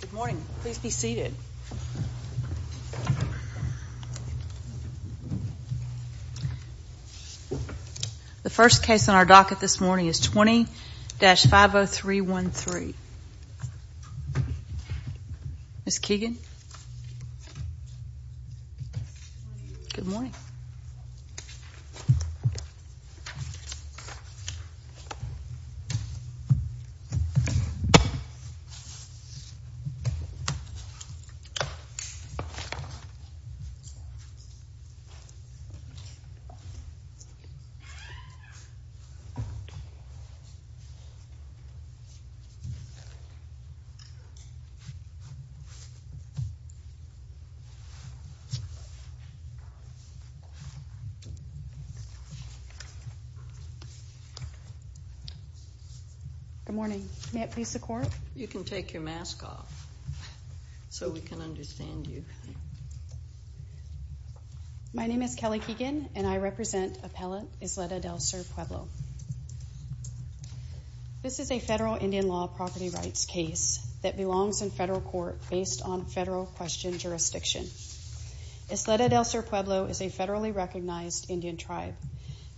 Good morning. Please be seated. The first case on our docket this morning is 20-50313. Ms. Keegan? Good morning. Good morning. May it please the Court? You can take your mask off so we can understand you. My name is Kelly Keegan and I represent Appellant Isleta del Sur Pueblo. This is a federal Indian law property rights case that belongs in federal court based on federal question jurisdiction. Isleta del Sur Pueblo is a federally recognized Indian tribe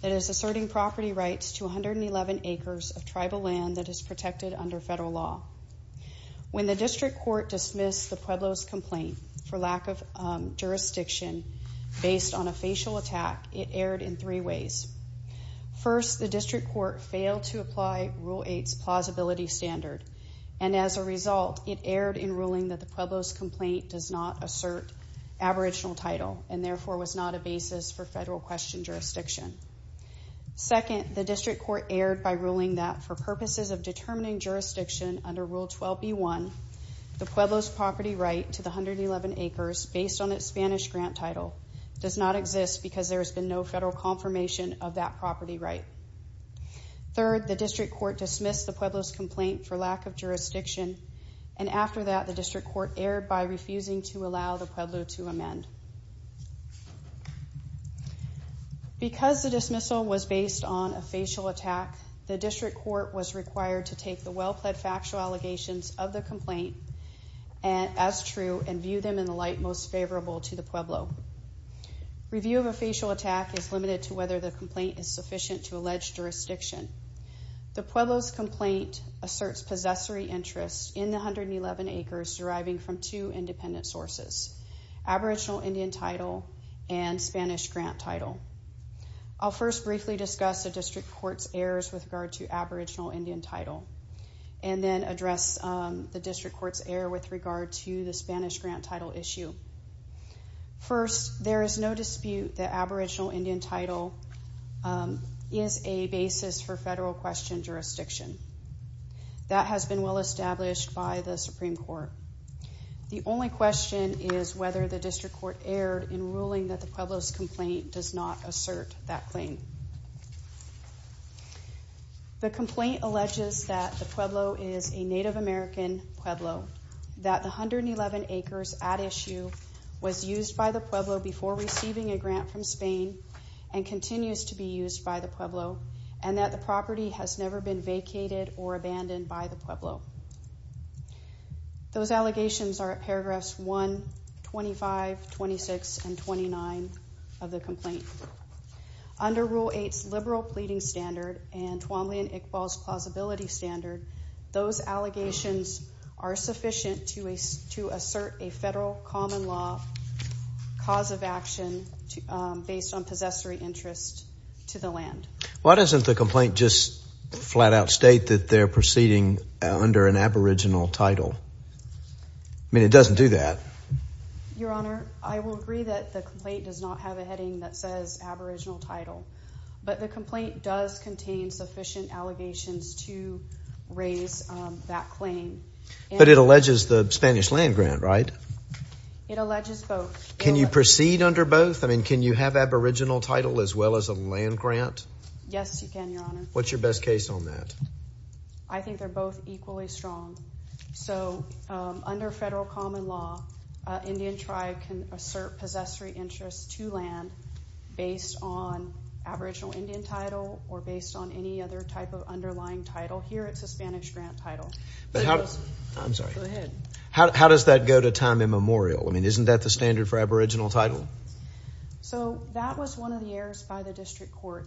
that is asserting property rights to 111 acres of tribal land that is protected under federal law. When the district court dismissed the Pueblo's complaint for lack of jurisdiction based on a facial attack, it erred in three ways. First, the district court failed to apply Rule 8's plausibility standard, and as a result, it erred in ruling that the Pueblo's complaint does not assert aboriginal title and therefore was not a basis for federal question jurisdiction. Second, the district court erred by ruling that for purposes of determining jurisdiction under Rule 12b-1, the Pueblo's property right to the 111 acres based on its Spanish grant title does not exist because there has been no federal confirmation of that property right. Third, the district court dismissed the Pueblo's complaint for lack of jurisdiction, and after that, the district court erred by refusing to allow the Pueblo to amend. Because the dismissal was based on a facial attack, the district court was required to take the well-plaid factual allegations of the complaint as true and view them in the light most favorable to the Pueblo. Review of a facial attack is limited to whether the complaint is sufficient to allege jurisdiction. The Pueblo's complaint asserts possessory interest in the 111 acres deriving from two independent sources, aboriginal Indian title and Spanish grant title. I'll first briefly discuss the district court's errors with regard to aboriginal Indian title, and then address the district court's error with regard to the Spanish grant title issue. First, there is no dispute that aboriginal Indian title is a basis for federal question jurisdiction. That has been well established by the Supreme Court. The only question is whether the district court erred in ruling that the Pueblo's complaint does not assert that claim. The complaint alleges that the Pueblo is a Native American Pueblo, that the 111 acres at issue was used by the Pueblo before receiving a grant from Spain and continues to be used by the Pueblo, and that the property has never been vacated or abandoned by the Pueblo. Those allegations are at paragraphs 1, 25, 26, and 29 of the complaint. Under Rule 8's liberal pleading standard and Twombly and Iqbal's plausibility standard, those allegations are sufficient to assert a federal common law cause of action based on possessory interest to the land. Why doesn't the complaint just flat out state that they're proceeding under an aboriginal title? I mean, it doesn't do that. Your Honor, I will agree that the complaint does not have a heading that says aboriginal title, but the complaint does contain sufficient allegations to raise that claim. But it alleges the Spanish land grant, right? It alleges both. Can you proceed under both? I mean, can you have aboriginal title as well as a land grant? Yes, you can, Your Honor. What's your best case on that? I think they're both equally strong. So, under federal common law, Indian tribe can assert possessory interest to land based on aboriginal Indian title or based on any other type of underlying title. Here, it's a Spanish grant title. I'm sorry. Go ahead. How does that go to time immemorial? I mean, isn't that the standard for aboriginal title? So, that was one of the errors by the district court.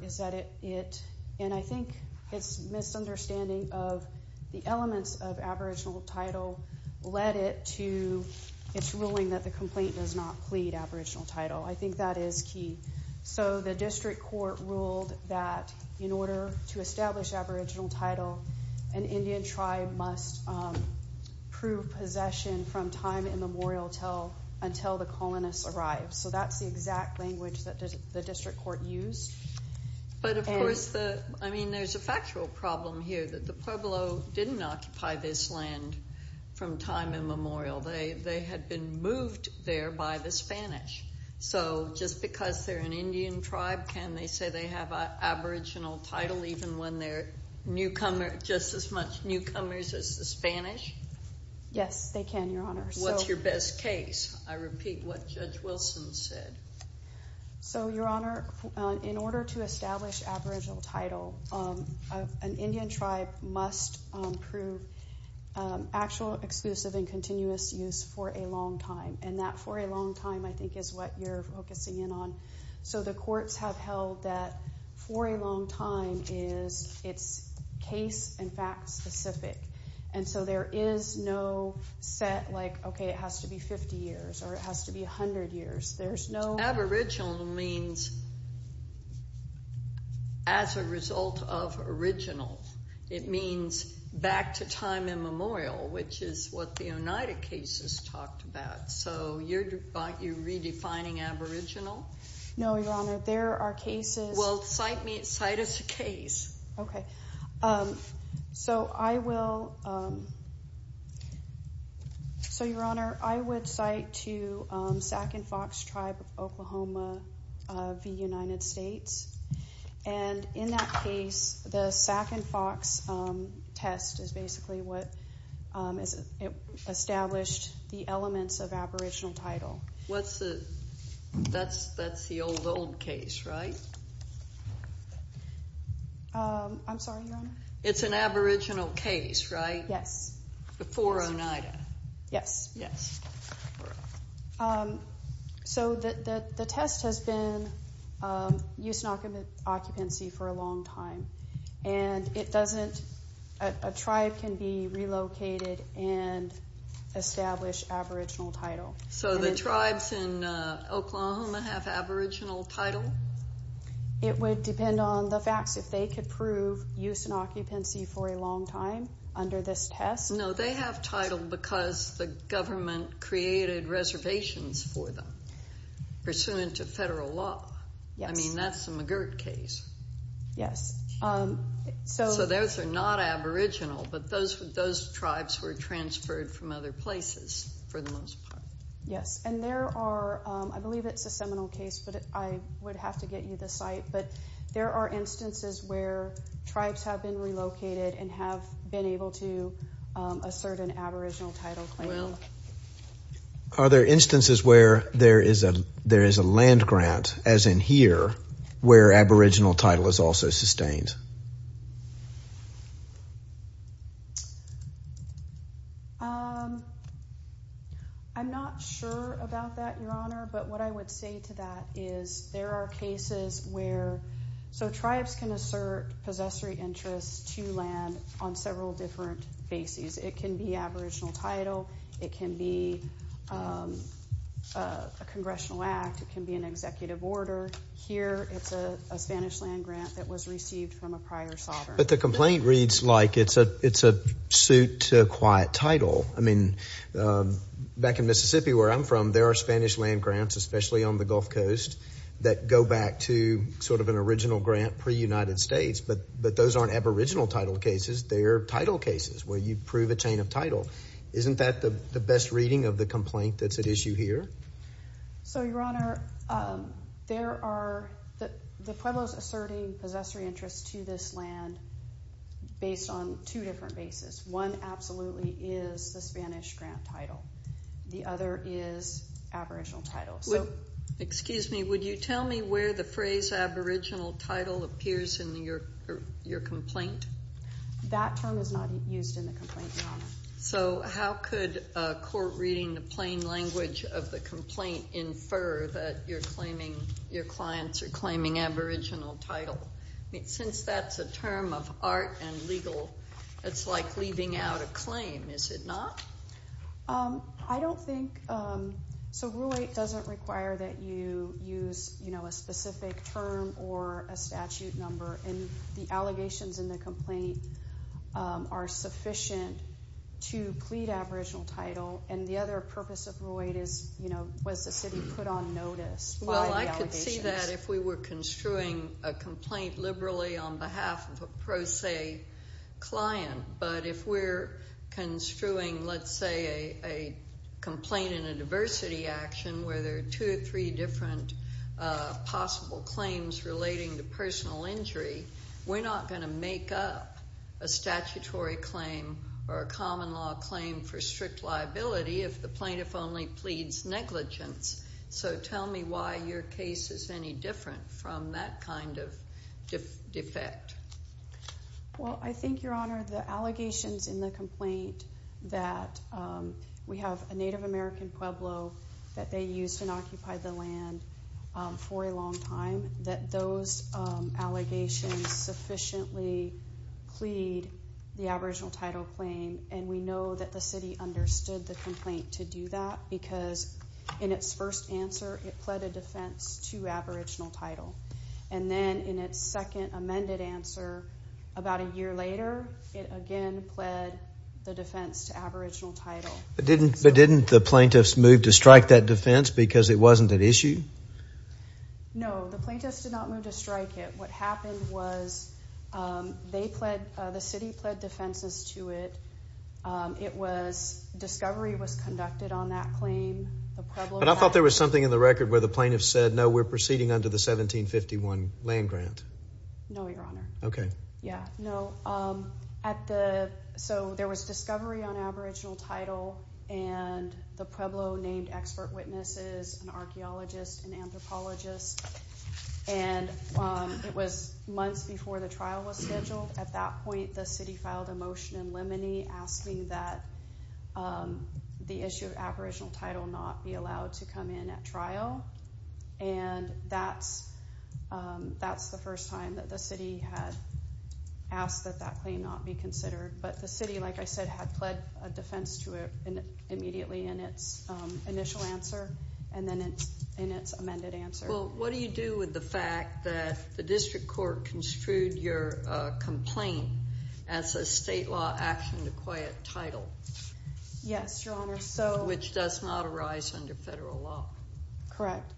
And I think it's misunderstanding of the elements of aboriginal title led it to its ruling that the complaint does not plead aboriginal title. I think that is key. So, the district court ruled that in order to establish aboriginal title, an Indian tribe must prove possession from time immemorial until the colonists arrive. So, that's the exact language that the district court used. But, of course, I mean, there's a factual problem here that the Pueblo didn't occupy this land from time immemorial. They had been moved there by the Spanish. So, just because they're an Indian tribe, can they say they have aboriginal title even when they're just as much newcomers as the Spanish? Yes, they can, Your Honor. What's your best case? I repeat what Judge Wilson said. So, Your Honor, in order to establish aboriginal title, an Indian tribe must prove actual, exclusive, and continuous use for a long time. And that for a long time, I think, is what you're focusing in on. So, the courts have held that for a long time is it's case and fact specific. And so, there is no set, like, okay, it has to be 50 years or it has to be 100 years. Aboriginal means as a result of original. It means back to time immemorial, which is what the Oneida cases talked about. So, you're redefining aboriginal? No, Your Honor. There are cases. Well, cite me, cite us a case. Okay. So, I will. So, Your Honor, I would cite to Sac and Fox tribe of Oklahoma v. United States. And in that case, the Sac and Fox test is basically what established the elements of aboriginal title. What's the, that's the old, old case, right? I'm sorry, Your Honor. It's an aboriginal case, right? Yes. Before Oneida. Yes. Yes. Correct. So, the test has been used in occupancy for a long time. And it doesn't, a tribe can be relocated and establish aboriginal title. So, the tribes in Oklahoma have aboriginal title? It would depend on the facts if they could prove use in occupancy for a long time under this test. No, they have title because the government created reservations for them pursuant to federal law. I mean, that's the McGirt case. Yes. So, those are not aboriginal, but those tribes were transferred from other places for the most part. Yes, and there are, I believe it's a seminal case, but I would have to get you the site. But there are instances where tribes have been relocated and have been able to assert an aboriginal title claim. Are there instances where there is a land grant, as in here, where aboriginal title is also sustained? I'm not sure about that, Your Honor, but what I would say to that is there are cases where, so tribes can assert possessory interests to land on several different bases. It can be aboriginal title. It can be a congressional act. It can be an executive order. Here, it's a Spanish land grant that was received from a prior sovereign. But the complaint reads like it's a suit to acquire title. I mean, back in Mississippi, where I'm from, there are Spanish land grants, especially on the Gulf Coast, that go back to sort of an original grant per United States, but those aren't aboriginal title cases. They're title cases where you prove a chain of title. Isn't that the best reading of the complaint that's at issue here? So, Your Honor, there are the Pueblos asserting possessory interests to this land based on two different bases. One absolutely is the Spanish grant title. The other is aboriginal title. Excuse me. Would you tell me where the phrase aboriginal title appears in your complaint? That term is not used in the complaint, Your Honor. So how could a court reading the plain language of the complaint infer that you're claiming, your clients are claiming aboriginal title? Since that's a term of art and legal, it's like leaving out a claim, is it not? I don't think so. Rule 8 doesn't require that you use a specific term or a statute number, and the allegations in the complaint are sufficient to plead aboriginal title, and the other purpose of Rule 8 is was the city put on notice by the allegations? Well, I could see that if we were construing a complaint liberally on behalf of a pro se client, but if we're construing, let's say, a complaint in a diversity action where there are two or three different possible claims relating to personal injury, we're not going to make up a statutory claim or a common law claim for strict liability if the plaintiff only pleads negligence. So tell me why your case is any different from that kind of defect. Well, I think, Your Honor, the allegations in the complaint that we have a Native American Pueblo that they used and occupied the land for a long time, that those allegations sufficiently plead the aboriginal title claim, and we know that the city understood the complaint to do that because in its first answer it pled a defense to aboriginal title, and then in its second amended answer about a year later it again pled the defense to aboriginal title. But didn't the plaintiffs move to strike that defense because it wasn't an issue? No, the plaintiffs did not move to strike it. What happened was the city pled defenses to it. Discovery was conducted on that claim. But I thought there was something in the record where the plaintiff said, no, we're proceeding under the 1751 land grant. No, Your Honor. Okay. Yeah, no. So there was discovery on aboriginal title, and the Pueblo named expert witnesses, an archaeologist, an anthropologist, and it was months before the trial was scheduled. At that point the city filed a motion in limine asking that the issue of aboriginal title not be allowed to come in at trial. And that's the first time that the city had asked that that claim not be considered. But the city, like I said, had pled a defense to it immediately in its initial answer and then in its amended answer. Well, what do you do with the fact that the district court construed your complaint as a state law action to acquit title? Yes, Your Honor. Which does not arise under federal law. Correct.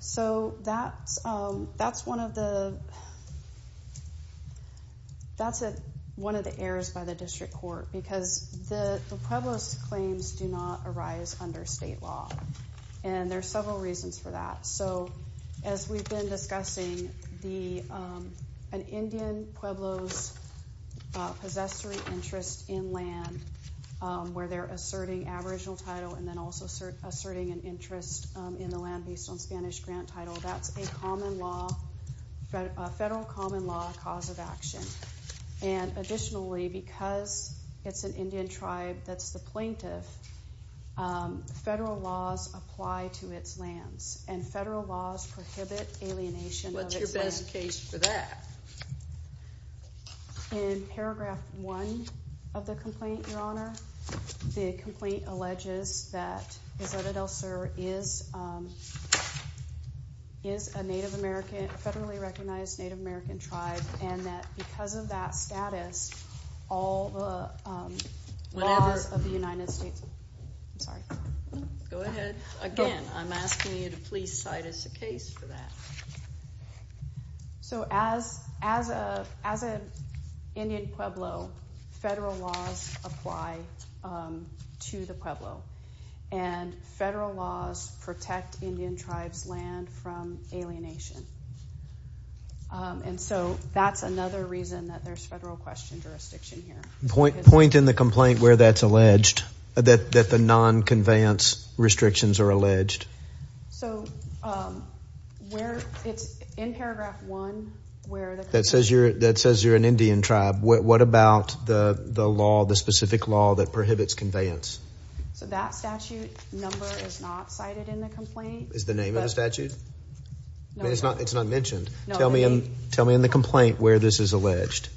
So that's one of the errors by the district court, because the Pueblo's claims do not arise under state law. And there are several reasons for that. So as we've been discussing, an Indian Pueblo's possessory interest in land, where they're asserting aboriginal title and then also asserting an interest in the land based on Spanish grant title, that's a federal common law cause of action. And additionally, because it's an Indian tribe that's the plaintiff, federal laws apply to its lands, and federal laws prohibit alienation of its land. What's your best case for that? In paragraph one of the complaint, Your Honor, the complaint alleges that Zotadel Sur is a federally recognized Native American tribe and that because of that status, all the laws of the United States... I'm sorry. Go ahead. Again, I'm asking you to please cite us a case for that. So as an Indian Pueblo, federal laws apply to the Pueblo, and federal laws protect Indian tribes' land from alienation. And so that's another reason that there's federal question jurisdiction here. Point in the complaint where that's alleged, that the non-conveyance restrictions are alleged. So where it's in paragraph one where the complaint... That says you're an Indian tribe. What about the law, the specific law that prohibits conveyance? So that statute number is not cited in the complaint. Is the name of the statute? No. It's not mentioned. Tell me in the complaint where this is alleged.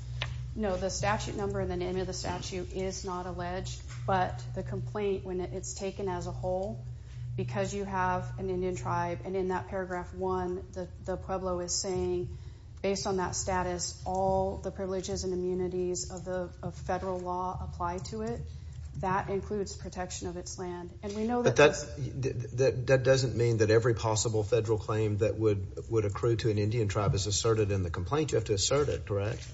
No, the statute number and the name of the statute is not alleged, but the complaint, when it's taken as a whole, because you have an Indian tribe, and in that paragraph one, the Pueblo is saying, based on that status, all the privileges and immunities of federal law apply to it. That includes protection of its land. But that doesn't mean that every possible federal claim that would accrue to an Indian tribe is asserted in the complaint. You have to assert it, correct?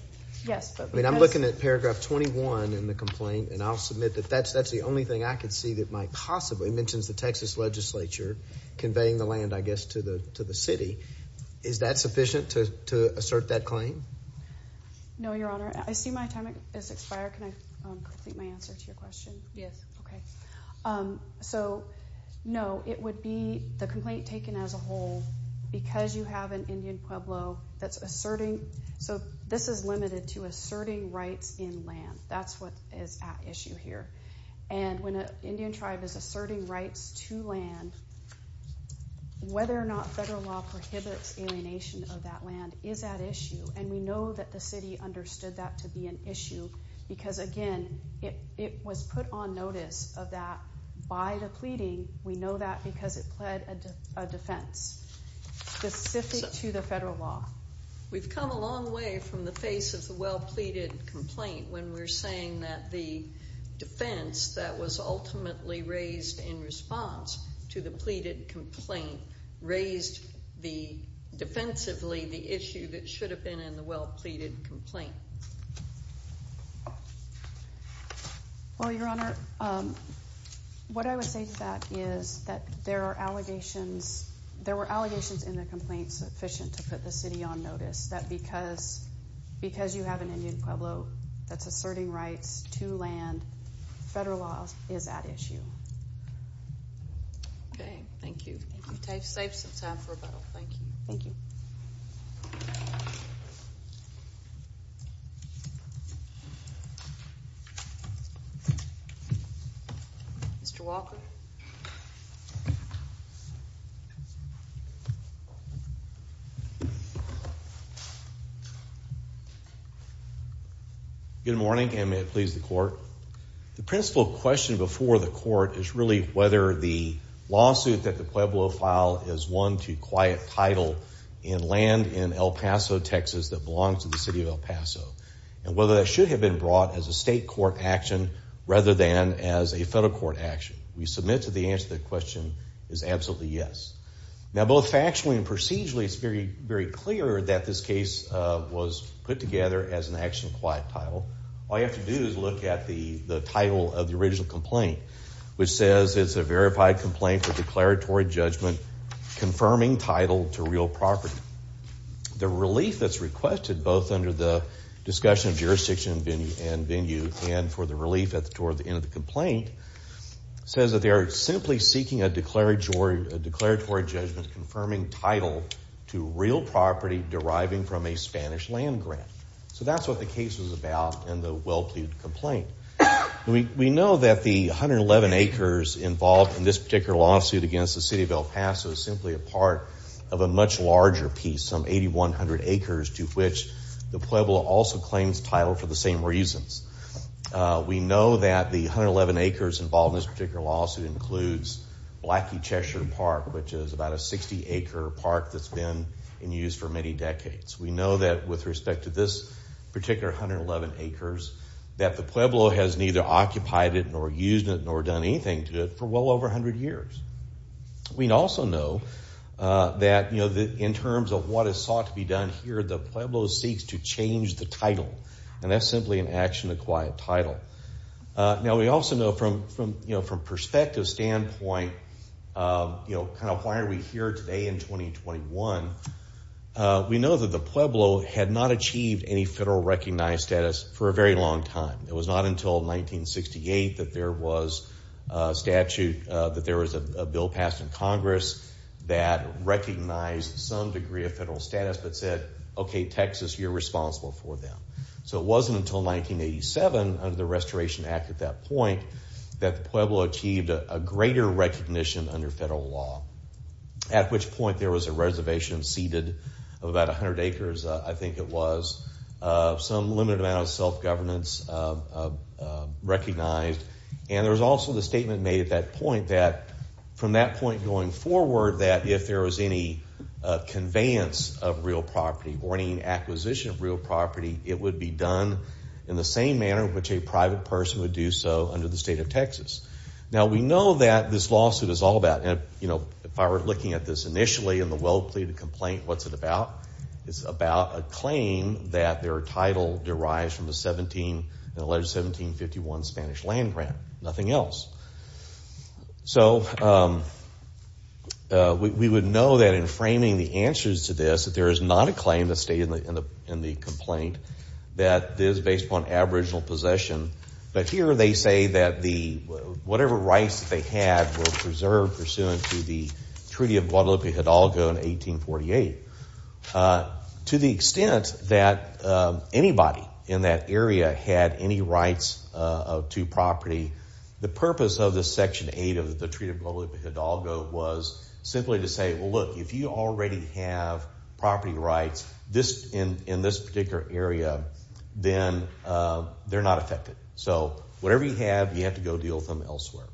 Yes. I mean, I'm looking at paragraph 21 in the complaint, and I'll submit that that's the only thing I could see that might possibly. It mentions the Texas legislature conveying the land, I guess, to the city. Is that sufficient to assert that claim? No, Your Honor. I see my time has expired. Can I complete my answer to your question? Yes. Okay. So, no, it would be the complaint taken as a whole, because you have an Indian Pueblo that's asserting. So this is limited to asserting rights in land. That's what is at issue here. And when an Indian tribe is asserting rights to land, whether or not federal law prohibits alienation of that land is at issue, and we know that the city understood that to be an issue, because, again, it was put on notice of that by the pleading. We know that because it pled a defense specific to the federal law. We've come a long way from the face of the well-pleaded complaint when we're saying that the defense that was ultimately raised in response to the pleaded complaint raised defensively the issue that should have been in the well-pleaded complaint. Well, Your Honor, what I would say to that is that there are allegations. There were allegations in the complaint sufficient to put the city on notice that because you have an Indian Pueblo that's asserting rights to land, federal law is at issue. Okay. Thank you. Thank you. Save some time for rebuttal. Thank you. Thank you. Mr. Walker. Good morning, and may it please the court. The principal question before the court is really whether the lawsuit that the Pueblo filed is one to quiet title in land in El Paso, Texas, that belongs to the city of El Paso, and whether that should have been brought as a state court action rather than as a federal court action. We submit to the answer to that question is absolutely yes. Now, both factually and procedurally, it's very clear that this case was put together as an action to quiet title. All you have to do is look at the title of the original complaint, which says it's a verified complaint for declaratory judgment confirming title to real property. The relief that's requested both under the discussion of jurisdiction and venue and for the relief toward the end of the complaint says that they are simply seeking a declaratory judgment confirming title to real property deriving from a Spanish land grant. So that's what the case was about in the well-pleaded complaint. We know that the 111 acres involved in this particular lawsuit against the city of El Paso is simply a part of a much larger piece, some 8,100 acres to which the Pueblo also claims title for the same reasons. We know that the 111 acres involved in this particular lawsuit includes Blackie Cheshire Park, which is about a 60-acre park that's been in use for many decades. We know that with respect to this particular 111 acres that the Pueblo has neither occupied it nor used it nor done anything to it for well over 100 years. We also know that in terms of what is sought to be done here, the Pueblo seeks to change the title, and that's simply an action-acquired title. Now, we also know from a perspective standpoint, kind of why are we here today in 2021, we know that the Pueblo had not achieved any federal recognized status for a very long time. It was not until 1968 that there was a statute, that there was a bill passed in Congress that recognized some degree of federal status that said, okay, Texas, you're responsible for them. So it wasn't until 1987, under the Restoration Act at that point, that the Pueblo achieved a greater recognition under federal law, at which point there was a reservation ceded of about 100 acres, I think it was, of some limited amount of self-governance recognized, and there was also the statement made at that point that from that point going forward, that if there was any conveyance of real property or any acquisition of real property, it would be done in the same manner which a private person would do so under the state of Texas. Now, we know that this lawsuit is all about, if I were looking at this initially in the well-pleaded complaint, what's it about? It's about a claim that their title derives from the 17, the alleged 1751 Spanish land grant, nothing else. So we would know that in framing the answers to this that there is not a claim that's stated in the complaint that is based upon aboriginal possession, but here they say that whatever rights that they had were preserved pursuant to the Treaty of Guadalupe Hidalgo in 1848. To the extent that anybody in that area had any rights to property, the purpose of this Section 8 of the Treaty of Guadalupe Hidalgo was simply to say, well, look, if you already have property rights in this particular area, then they're not affected. So whatever you have, you have to go deal with them elsewhere.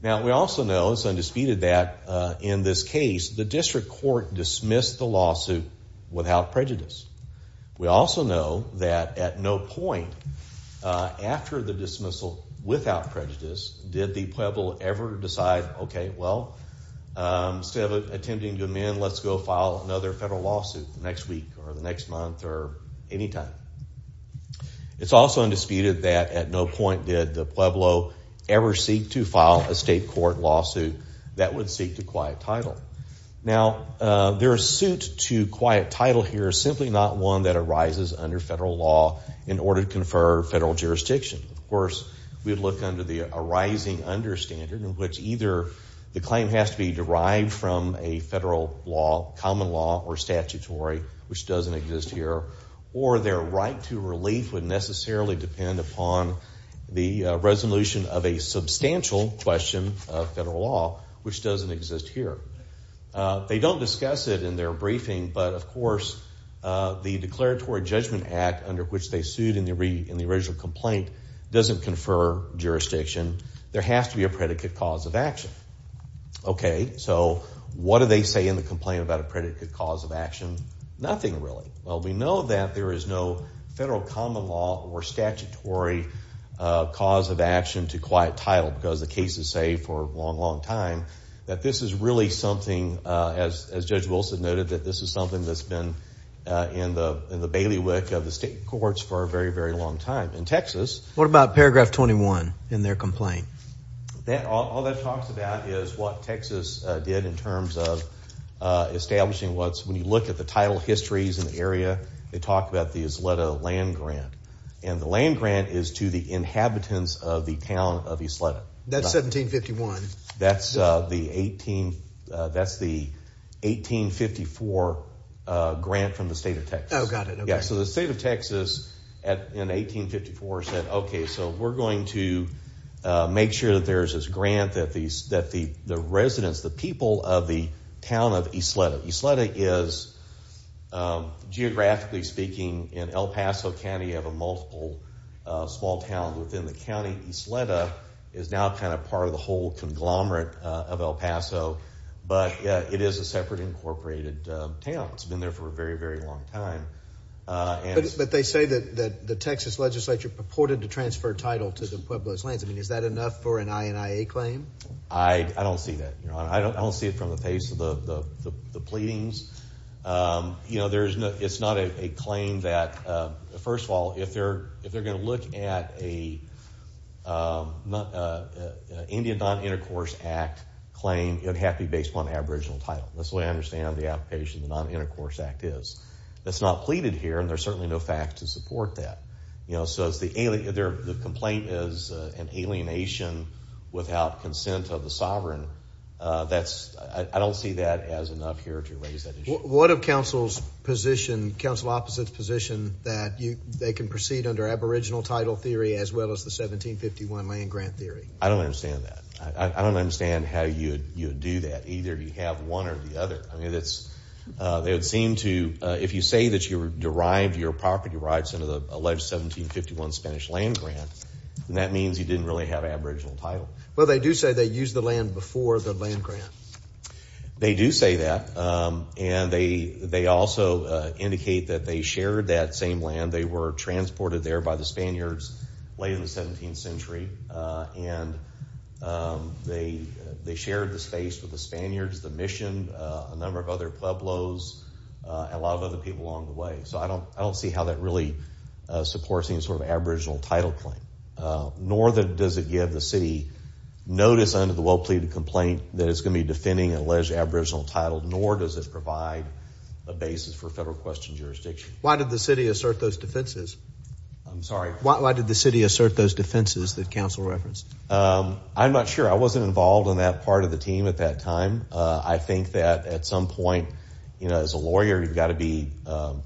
Now, we also know, it's undisputed that in this case, the district court dismissed the lawsuit without prejudice. We also know that at no point after the dismissal without prejudice did the Pueblo ever decide, okay, well, instead of attempting to amend, let's go file another federal lawsuit next week or the next month or any time. It's also undisputed that at no point did the Pueblo ever seek to file a state court lawsuit that would seek to quiet title. Now, their suit to quiet title here is simply not one that arises under federal law in order to confer federal jurisdiction. Of course, we'd look under the arising under standard in which either the claim has to be derived from a federal law, common law or statutory, which doesn't exist here, or their right to relief would necessarily depend upon the resolution of a substantial question of federal law, which doesn't exist here. They don't discuss it in their briefing, but of course the declaratory judgment act under which they sued in the original complaint doesn't confer jurisdiction. There has to be a predicate cause of action. Okay, so what do they say in the complaint about a predicate cause of action? Nothing really. Well, we know that there is no federal common law or statutory cause of action to quiet title because the cases say for a long, long time that this is really something, as Judge Wilson noted, that this is something that's been in the bailiwick of the state courts for a very, very long time. In Texas... What about paragraph 21 in their complaint? All that talks about is what Texas did in terms of establishing what's... They talk about the Ysleta land grant, and the land grant is to the inhabitants of the town of Ysleta. That's 1751. That's the 1854 grant from the state of Texas. Oh, got it, okay. Yeah, so the state of Texas in 1854 said, okay, so we're going to make sure that there's this grant that the residents, the people of the town of Ysleta... Geographically speaking, in El Paso County, you have a multiple small town within the county. Ysleta is now kind of part of the whole conglomerate of El Paso, but it is a separate incorporated town. It's been there for a very, very long time. But they say that the Texas legislature purported to transfer title to the Pueblos lands. I mean, is that enough for an INIA claim? I don't see that. I don't see it from the face of the pleadings. You know, it's not a claim that... First of all, if they're going to look at an INDIA Non-Intercourse Act claim, it would have to be based upon aboriginal title. That's the way I understand the application of the Non-Intercourse Act is. That's not pleaded here, and there's certainly no fact to support that. You know, so the complaint is an alienation without consent of the sovereign. I don't see that as enough here to raise that issue. What of council's position, council opposite's position, that they can proceed under aboriginal title theory as well as the 1751 land grant theory? I don't understand that. I don't understand how you would do that, either you have one or the other. I mean, they would seem to... If you say that you derived your property rights under the alleged 1751 Spanish land grant, then that means you didn't really have aboriginal title. Well, they do say they used the land before the land grant. They do say that, and they also indicate that they shared that same land. They were transported there by the Spaniards late in the 17th century, and they shared the space with the Spaniards, the mission, a number of other pueblos, and a lot of other people along the way. So I don't see how that really supports any sort of aboriginal title claim, nor does it give the city notice under the well-pleaded complaint that it's going to be defending an alleged aboriginal title, nor does it provide a basis for federal question jurisdiction. Why did the city assert those defenses? I'm sorry. Why did the city assert those defenses that council referenced? I'm not sure. I wasn't involved in that part of the team at that time. I think that at some point, you know, as a lawyer, you've got to be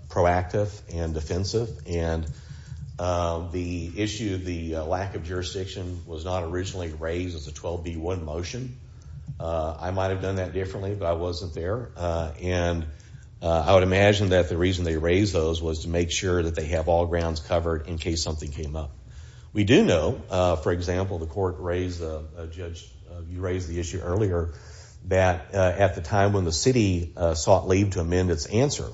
proactive and defensive, and the issue of the lack of jurisdiction was not originally raised as a 12B1 motion. I might have done that differently, but I wasn't there, and I would imagine that the reason they raised those was to make sure that they have all grounds covered in case something came up. We do know, for example, the court raised, Judge, you raised the issue earlier, that at the time when the city sought leave to amend its answer,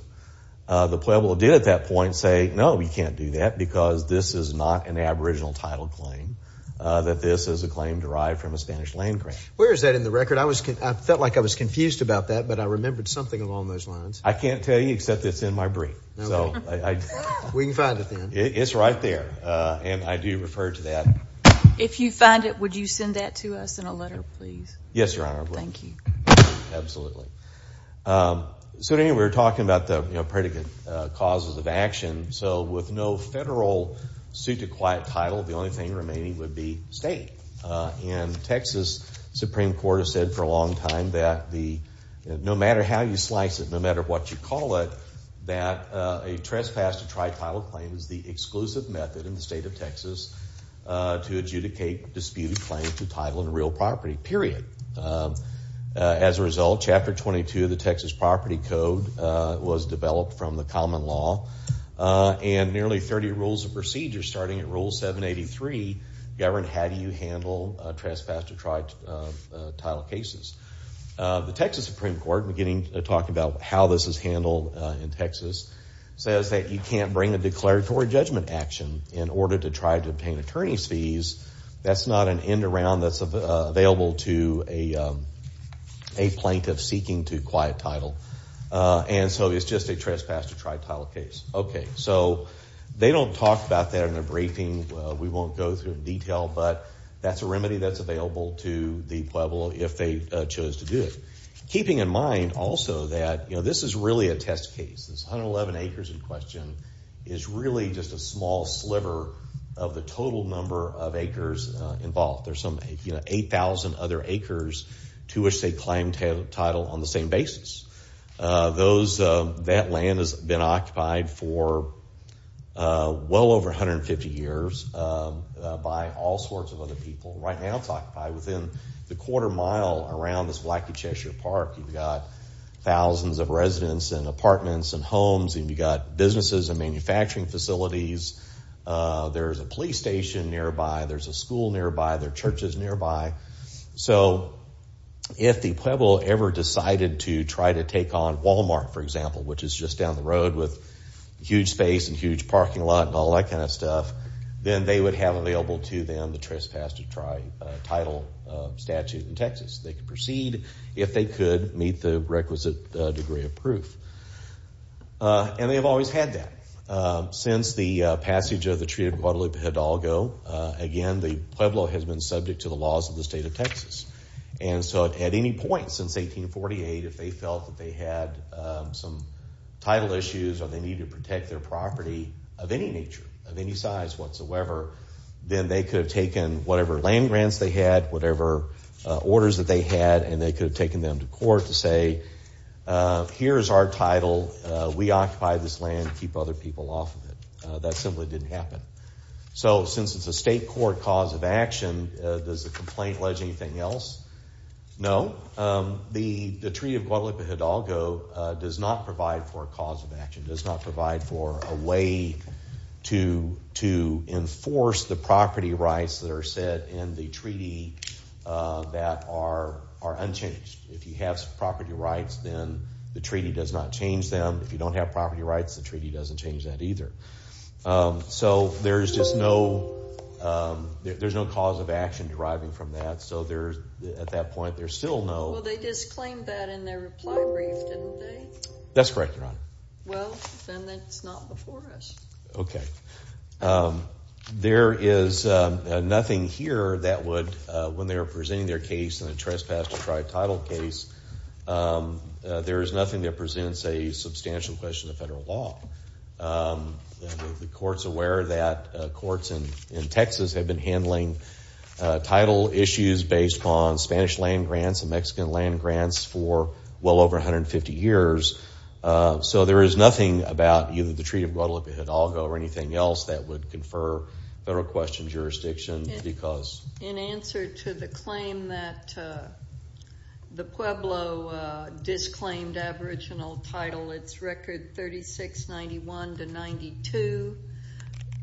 the Pueblo did at that point say, no, we can't do that because this is not an aboriginal title claim, that this is a claim derived from a Spanish land grant. Where is that in the record? I felt like I was confused about that, but I remembered something along those lines. I can't tell you except it's in my brief. Okay. We can find it then. It's right there, and I do refer to that. If you find it, would you send that to us in a letter, please? Yes, Your Honor. Thank you. Absolutely. So anyway, we were talking about the predicate causes of action. So with no federal suit to quiet title, the only thing remaining would be state. And Texas Supreme Court has said for a long time that no matter how you slice it, no matter what you call it, that a trespass to tri-title claim is the exclusive method in the state of Texas to adjudicate disputed claims to title and real property, period. As a result, Chapter 22 of the Texas Property Code was developed from the common law, and nearly 30 rules of procedure, starting at Rule 783, govern how do you handle trespass to tri-title cases. The Texas Supreme Court, beginning to talk about how this is handled in Texas, says that you can't bring a declaratory judgment action in order to try to obtain attorney's fees. That's not an end around that's available to a plaintiff seeking to quiet title. And so it's just a trespass to tri-title case. Okay, so they don't talk about that in their briefing. We won't go through it in detail, but that's a remedy that's available to the Pueblo if they chose to do it. Keeping in mind also that this is really a test case. This 111 acres in question is really just a small sliver of the total number of acres involved. There's some 8,000 other acres to which they claim title on the same basis. That land has been occupied for well over 150 years by all sorts of other people. Right now it's occupied within the quarter mile around this Wacky Cheshire Park. You've got thousands of residents and apartments and homes, and you've got businesses and manufacturing facilities. There's a police station nearby. There's a school nearby. There are churches nearby. So if the Pueblo ever decided to try to take on Walmart, for example, which is just down the road with huge space and huge parking lot and all that kind of stuff, then they would have available to them the trespass to title statute in Texas. They could proceed if they could meet the requisite degree of proof. And they've always had that. Since the passage of the Treaty of Guadalupe Hidalgo, again, the Pueblo has been subject to the laws of the state of Texas. And so at any point since 1848, if they felt that they had some title issues or they needed to protect their property of any nature, of any size whatsoever, then they could have taken whatever land grants they had, whatever orders that they had, and they could have taken them to court to say, here's our title. We occupy this land. Keep other people off of it. That simply didn't happen. So since it's a state court cause of action, does the complaint allege anything else? No. The Treaty of Guadalupe Hidalgo does not provide for a cause of action, does not provide for a way to enforce the property rights that are set in the treaty that are unchanged. If you have some property rights, then the treaty does not change them. If you don't have property rights, the treaty doesn't change that either. So there's just no cause of action deriving from that. So at that point, there's still no... Well, they disclaimed that in their reply brief, didn't they? That's correct, Your Honor. Well, then that's not before us. Okay. There is nothing here that would, when they were presenting their case in a trespass-deprived title case, there is nothing that presents a substantial question of federal law. The court's aware that courts in Texas have been handling title issues based upon Spanish land grants and Mexican land grants for well over 150 years. So there is nothing about either the Treaty of Guadalupe Hidalgo or anything else that would confer federal question jurisdiction because... The Pueblo disclaimed aboriginal title, its record 3691 to 92,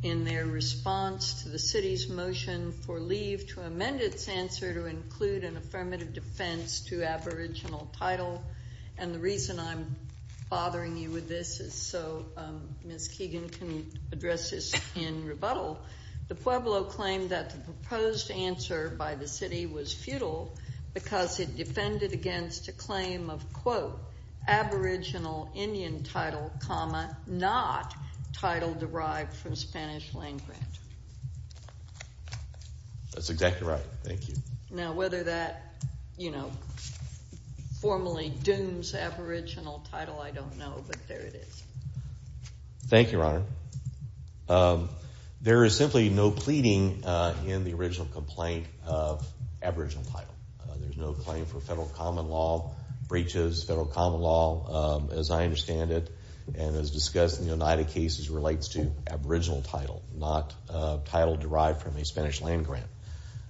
in their response to the city's motion for leave to amend its answer to include an affirmative defense to aboriginal title. And the reason I'm bothering you with this is so Ms. Keegan can address this in rebuttal. The Pueblo claimed that the proposed answer by the city was futile because it defended against a claim of, quote, aboriginal Indian title, comma, not title derived from Spanish land grant. That's exactly right. Thank you. Now, whether that, you know, formally dooms aboriginal title, I don't know, but there it is. Thank you, Your Honor. There is simply no pleading in the original complaint of aboriginal title. There's no claim for federal common law breaches. Federal common law, as I understand it, and as discussed in the Oneida cases, relates to aboriginal title, not title derived from a Spanish land grant.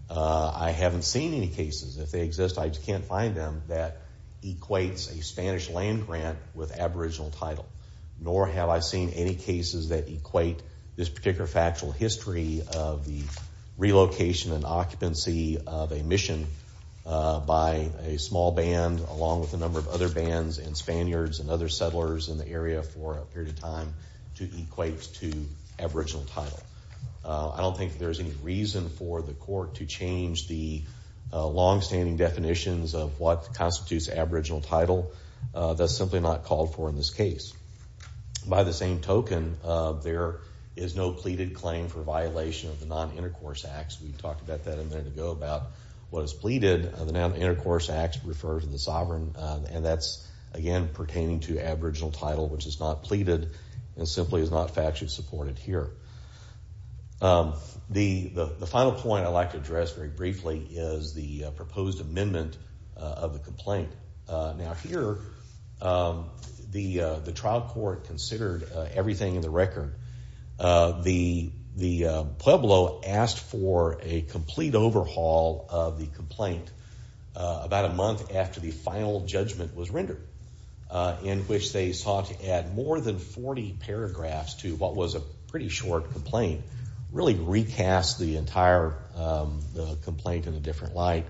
I haven't seen any cases. If they exist, I just can't find them that equates a Spanish land grant with aboriginal title, nor have I seen any cases that equate this particular factual history of the relocation and occupancy of a mission by a small band along with a number of other bands and Spaniards and other settlers in the area for a period of time to equate to aboriginal title. I don't think there's any reason for the court to change the long-standing definitions of what constitutes aboriginal title. That's simply not called for in this case. By the same token, there is no pleaded claim for violation of the Non-Intercourse Act. We talked about that a minute ago about what is pleaded. The Non-Intercourse Act refers to the sovereign, and that's, again, pertaining to aboriginal title, which is not pleaded and simply is not factually supported here. The final point I'd like to address very briefly is the proposed amendment of the complaint. Now, here, the trial court considered everything in the record. The Pueblo asked for a complete overhaul of the complaint about a month after the final judgment was rendered in which they sought to add more than 40 paragraphs to what was a pretty short complaint, really recast the entire complaint in a different light,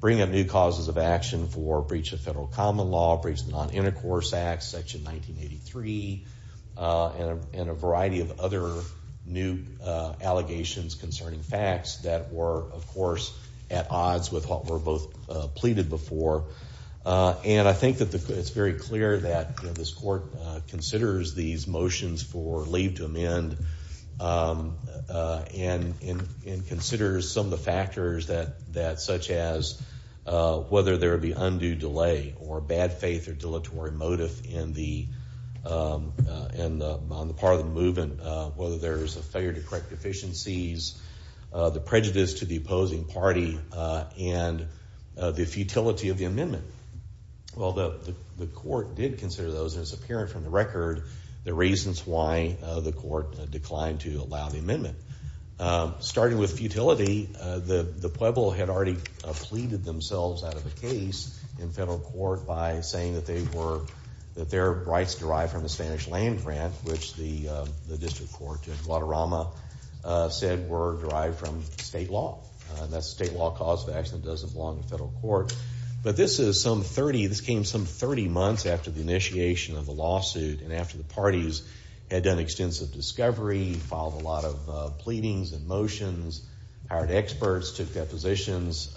bring up new causes of action for breach of federal common law, breach of the Non-Intercourse Act, Section 1983, and a variety of other new allegations concerning facts that were, of course, at odds with what were both pleaded before. And I think that it's very clear that this court considers these motions for leave to amend and considers some of the factors such as whether there would be undue delay or bad faith or dilatory motive on the part of the movement, whether there's a failure to correct deficiencies, the prejudice to the opposing party, and the futility of the amendment. Well, the court did consider those, and it's apparent from the record the reasons why the court declined to allow the amendment. Starting with futility, the Pueblo had already pleaded themselves out of the case in federal court by saying that their rights derived from the Spanish land grant, which the district court in Guadarrama said were derived from state law. That's state law cause of action that doesn't belong to federal court. But this came some 30 months after the initiation of the lawsuit and after the parties had done extensive discovery, filed a lot of pleadings and motions, hired experts, took depositions,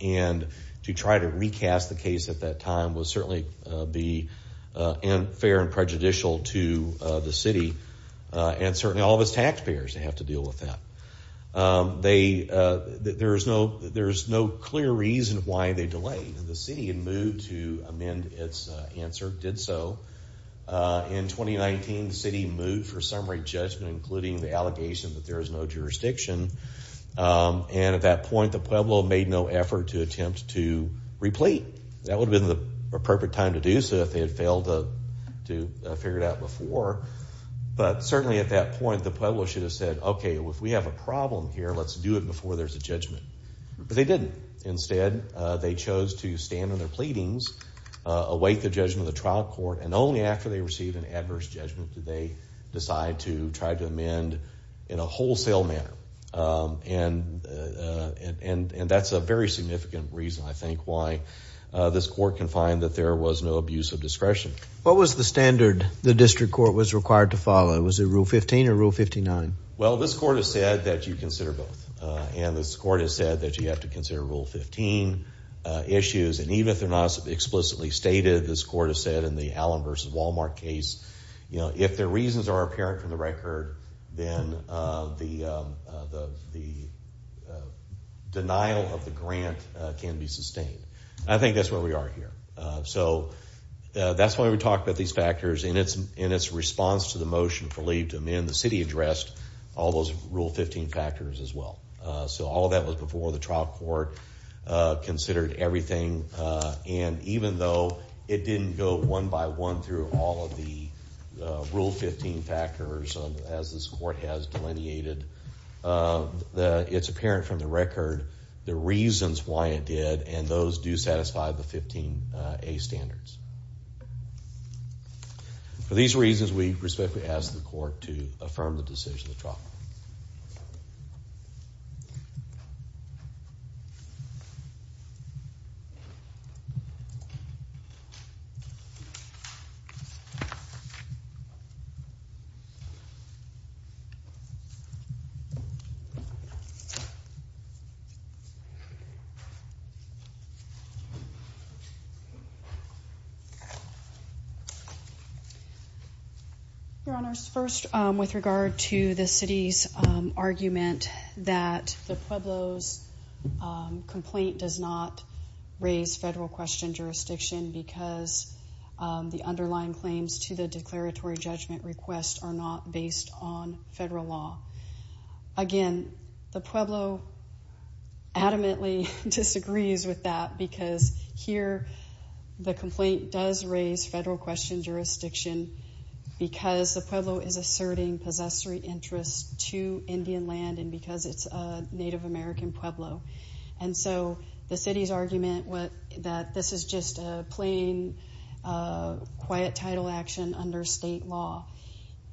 and to try to recast the case at that time would certainly be unfair and prejudicial to the city and certainly all of its taxpayers to have to deal with that. There's no clear reason why they delayed. The city had moved to amend its answer, did so. In 2019, the city moved for summary judgment including the allegation that there is no jurisdiction, and at that point, the Pueblo made no effort to attempt to replete. That would have been the appropriate time to do so if they had failed to figure it out before. But certainly at that point, the Pueblo should have said, okay, if we have a problem here, let's do it before there's a judgment. But they didn't. Instead, they chose to stand on their pleadings, await the judgment of the trial court, and only after they received an adverse judgment did they decide to try to amend in a wholesale manner. And that's a very significant reason, I think, why this court can find that there was no abuse of discretion. What was the standard the district court was required to follow? Was it Rule 15 or Rule 59? Well, this court has said that you consider both. And this court has said that you have to consider Rule 15 issues. And even if they're not explicitly stated, this court has said in the Allen v. Walmart case, if their reasons are apparent from the record, then the denial of the grant can be sustained. I think that's where we are here. So that's why we talk about these factors. In its response to the motion for leave to amend, the city addressed all those Rule 15 factors as well. So all of that was before the trial court considered everything. And even though it didn't go one by one through all of the Rule 15 factors as this court has delineated, it's apparent from the record the reasons why it did, and those do satisfy the 15A standards. For these reasons, we respectfully ask the court to affirm the decision of the trial. Thank you. Your Honors, first, with regard to the city's argument that the Pueblo's complaint does not raise federal question jurisdiction because the underlying claims to the declaratory judgment request are not based on federal law. Again, the Pueblo adamantly disagrees with that because here the complaint does raise federal question jurisdiction because the Pueblo is asserting possessory interest to Indian land and because it's a Native American Pueblo. And so the city's argument that this is just a plain, quiet title action under state law.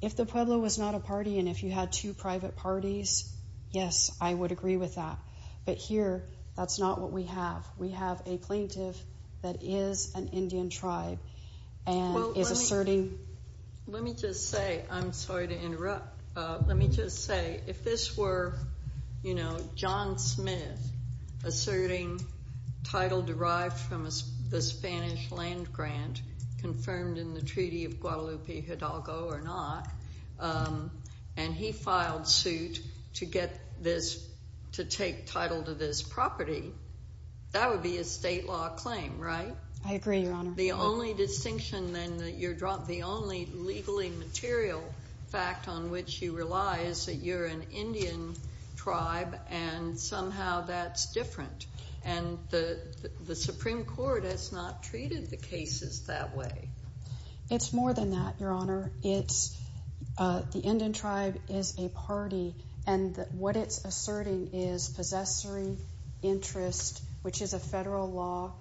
If the Pueblo was not a party and if you had two private parties, yes, I would agree with that. But here, that's not what we have. We have a plaintiff that is an Indian tribe and is asserting... Let me just say, I'm sorry to interrupt. Let me just say, if this were, you know, John Smith asserting title derived from the Spanish land grant confirmed in the Treaty of Guadalupe Hidalgo or not and he filed suit to get this, to take title to this property, that would be a state law claim, right? I agree, Your Honor. The only distinction then, the only legally material fact on which you rely is that you're an Indian tribe and somehow that's different. And the Supreme Court has not treated the cases that way. It's more than that, Your Honor. It's the Indian tribe is a party and what it's asserting is possessory interest, which is a federal law.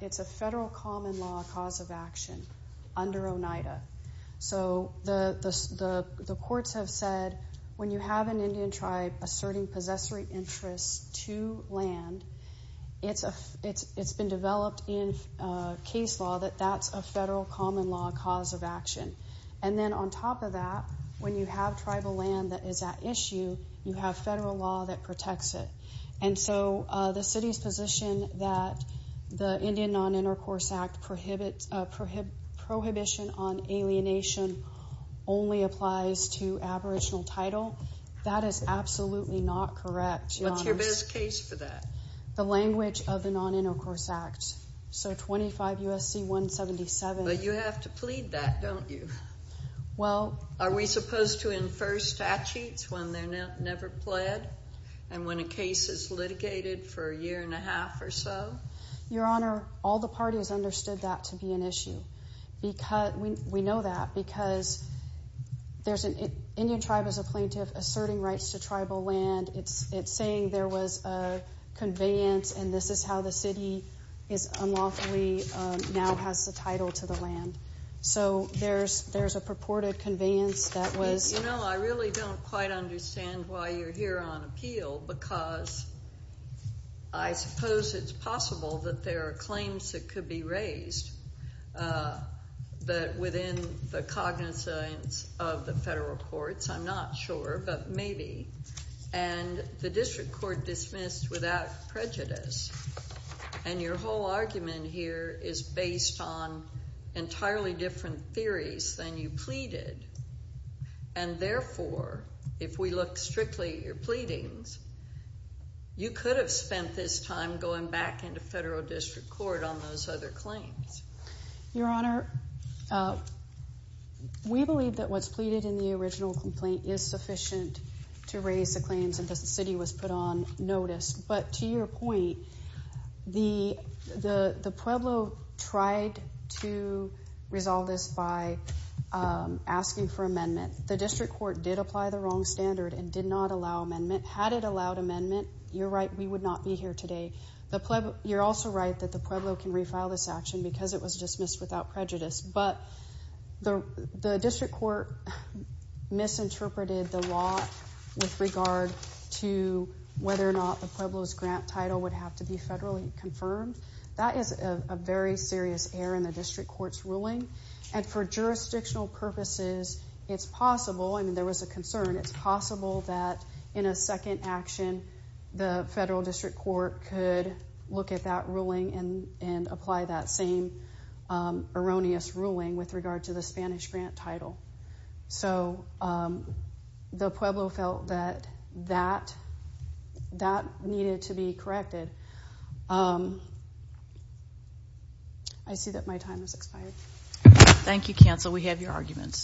It's a federal common law cause of action under Oneida. So the courts have said, when you have an Indian tribe asserting possessory interest to land, it's been developed in case law that that's a federal common law cause of action. And then on top of that, when you have tribal land that is at issue, you have federal law that protects it. And so the city's position that the Indian Non-Intercourse Act prohibition on alienation only applies to aboriginal title, that is absolutely not correct, Your Honor. What's your best case for that? The language of the Non-Intercourse Act. So 25 U.S.C. 177... But you have to plead that, don't you? Well... Are we supposed to infer statutes when they're never pled and when a case is litigated for a year and a half or so? Your Honor, all the parties understood that to be an issue. We know that because there's an Indian tribe as a plaintiff asserting rights to tribal land. It's saying there was a conveyance and this is how the city is unlawfully... now has the title to the land. So there's a purported conveyance that was... You know, I really don't quite understand why you're here on appeal, because I suppose it's possible that there are claims that could be raised within the cognizance of the federal courts. I'm not sure, but maybe. And the district court dismissed without prejudice. And your whole argument here is based on entirely different theories than you pleaded. And therefore, if we look strictly at your pleadings, you could have spent this time going back into federal district court on those other claims. Your Honor, we believe that what's pleaded in the original complaint is sufficient to raise the claims and that the city was put on notice. But to your point, the Pueblo tried to resolve this by asking for amendment. The district court did apply the wrong standard and did not allow amendment. Had it allowed amendment, you're right, we would not be here today. You're also right that the Pueblo can refile this action because it was dismissed without prejudice. But the district court misinterpreted the law with regard to whether or not the Pueblo's grant title would have to be federally confirmed. That is a very serious error in the district court's ruling. And for jurisdictional purposes, it's possible, and there was a concern, it's possible that in a second action, the federal district court could look at that ruling and apply that same erroneous ruling with regard to the Spanish grant title. So the Pueblo felt that that needed to be corrected. I see that my time has expired. Thank you, counsel. We have your arguments.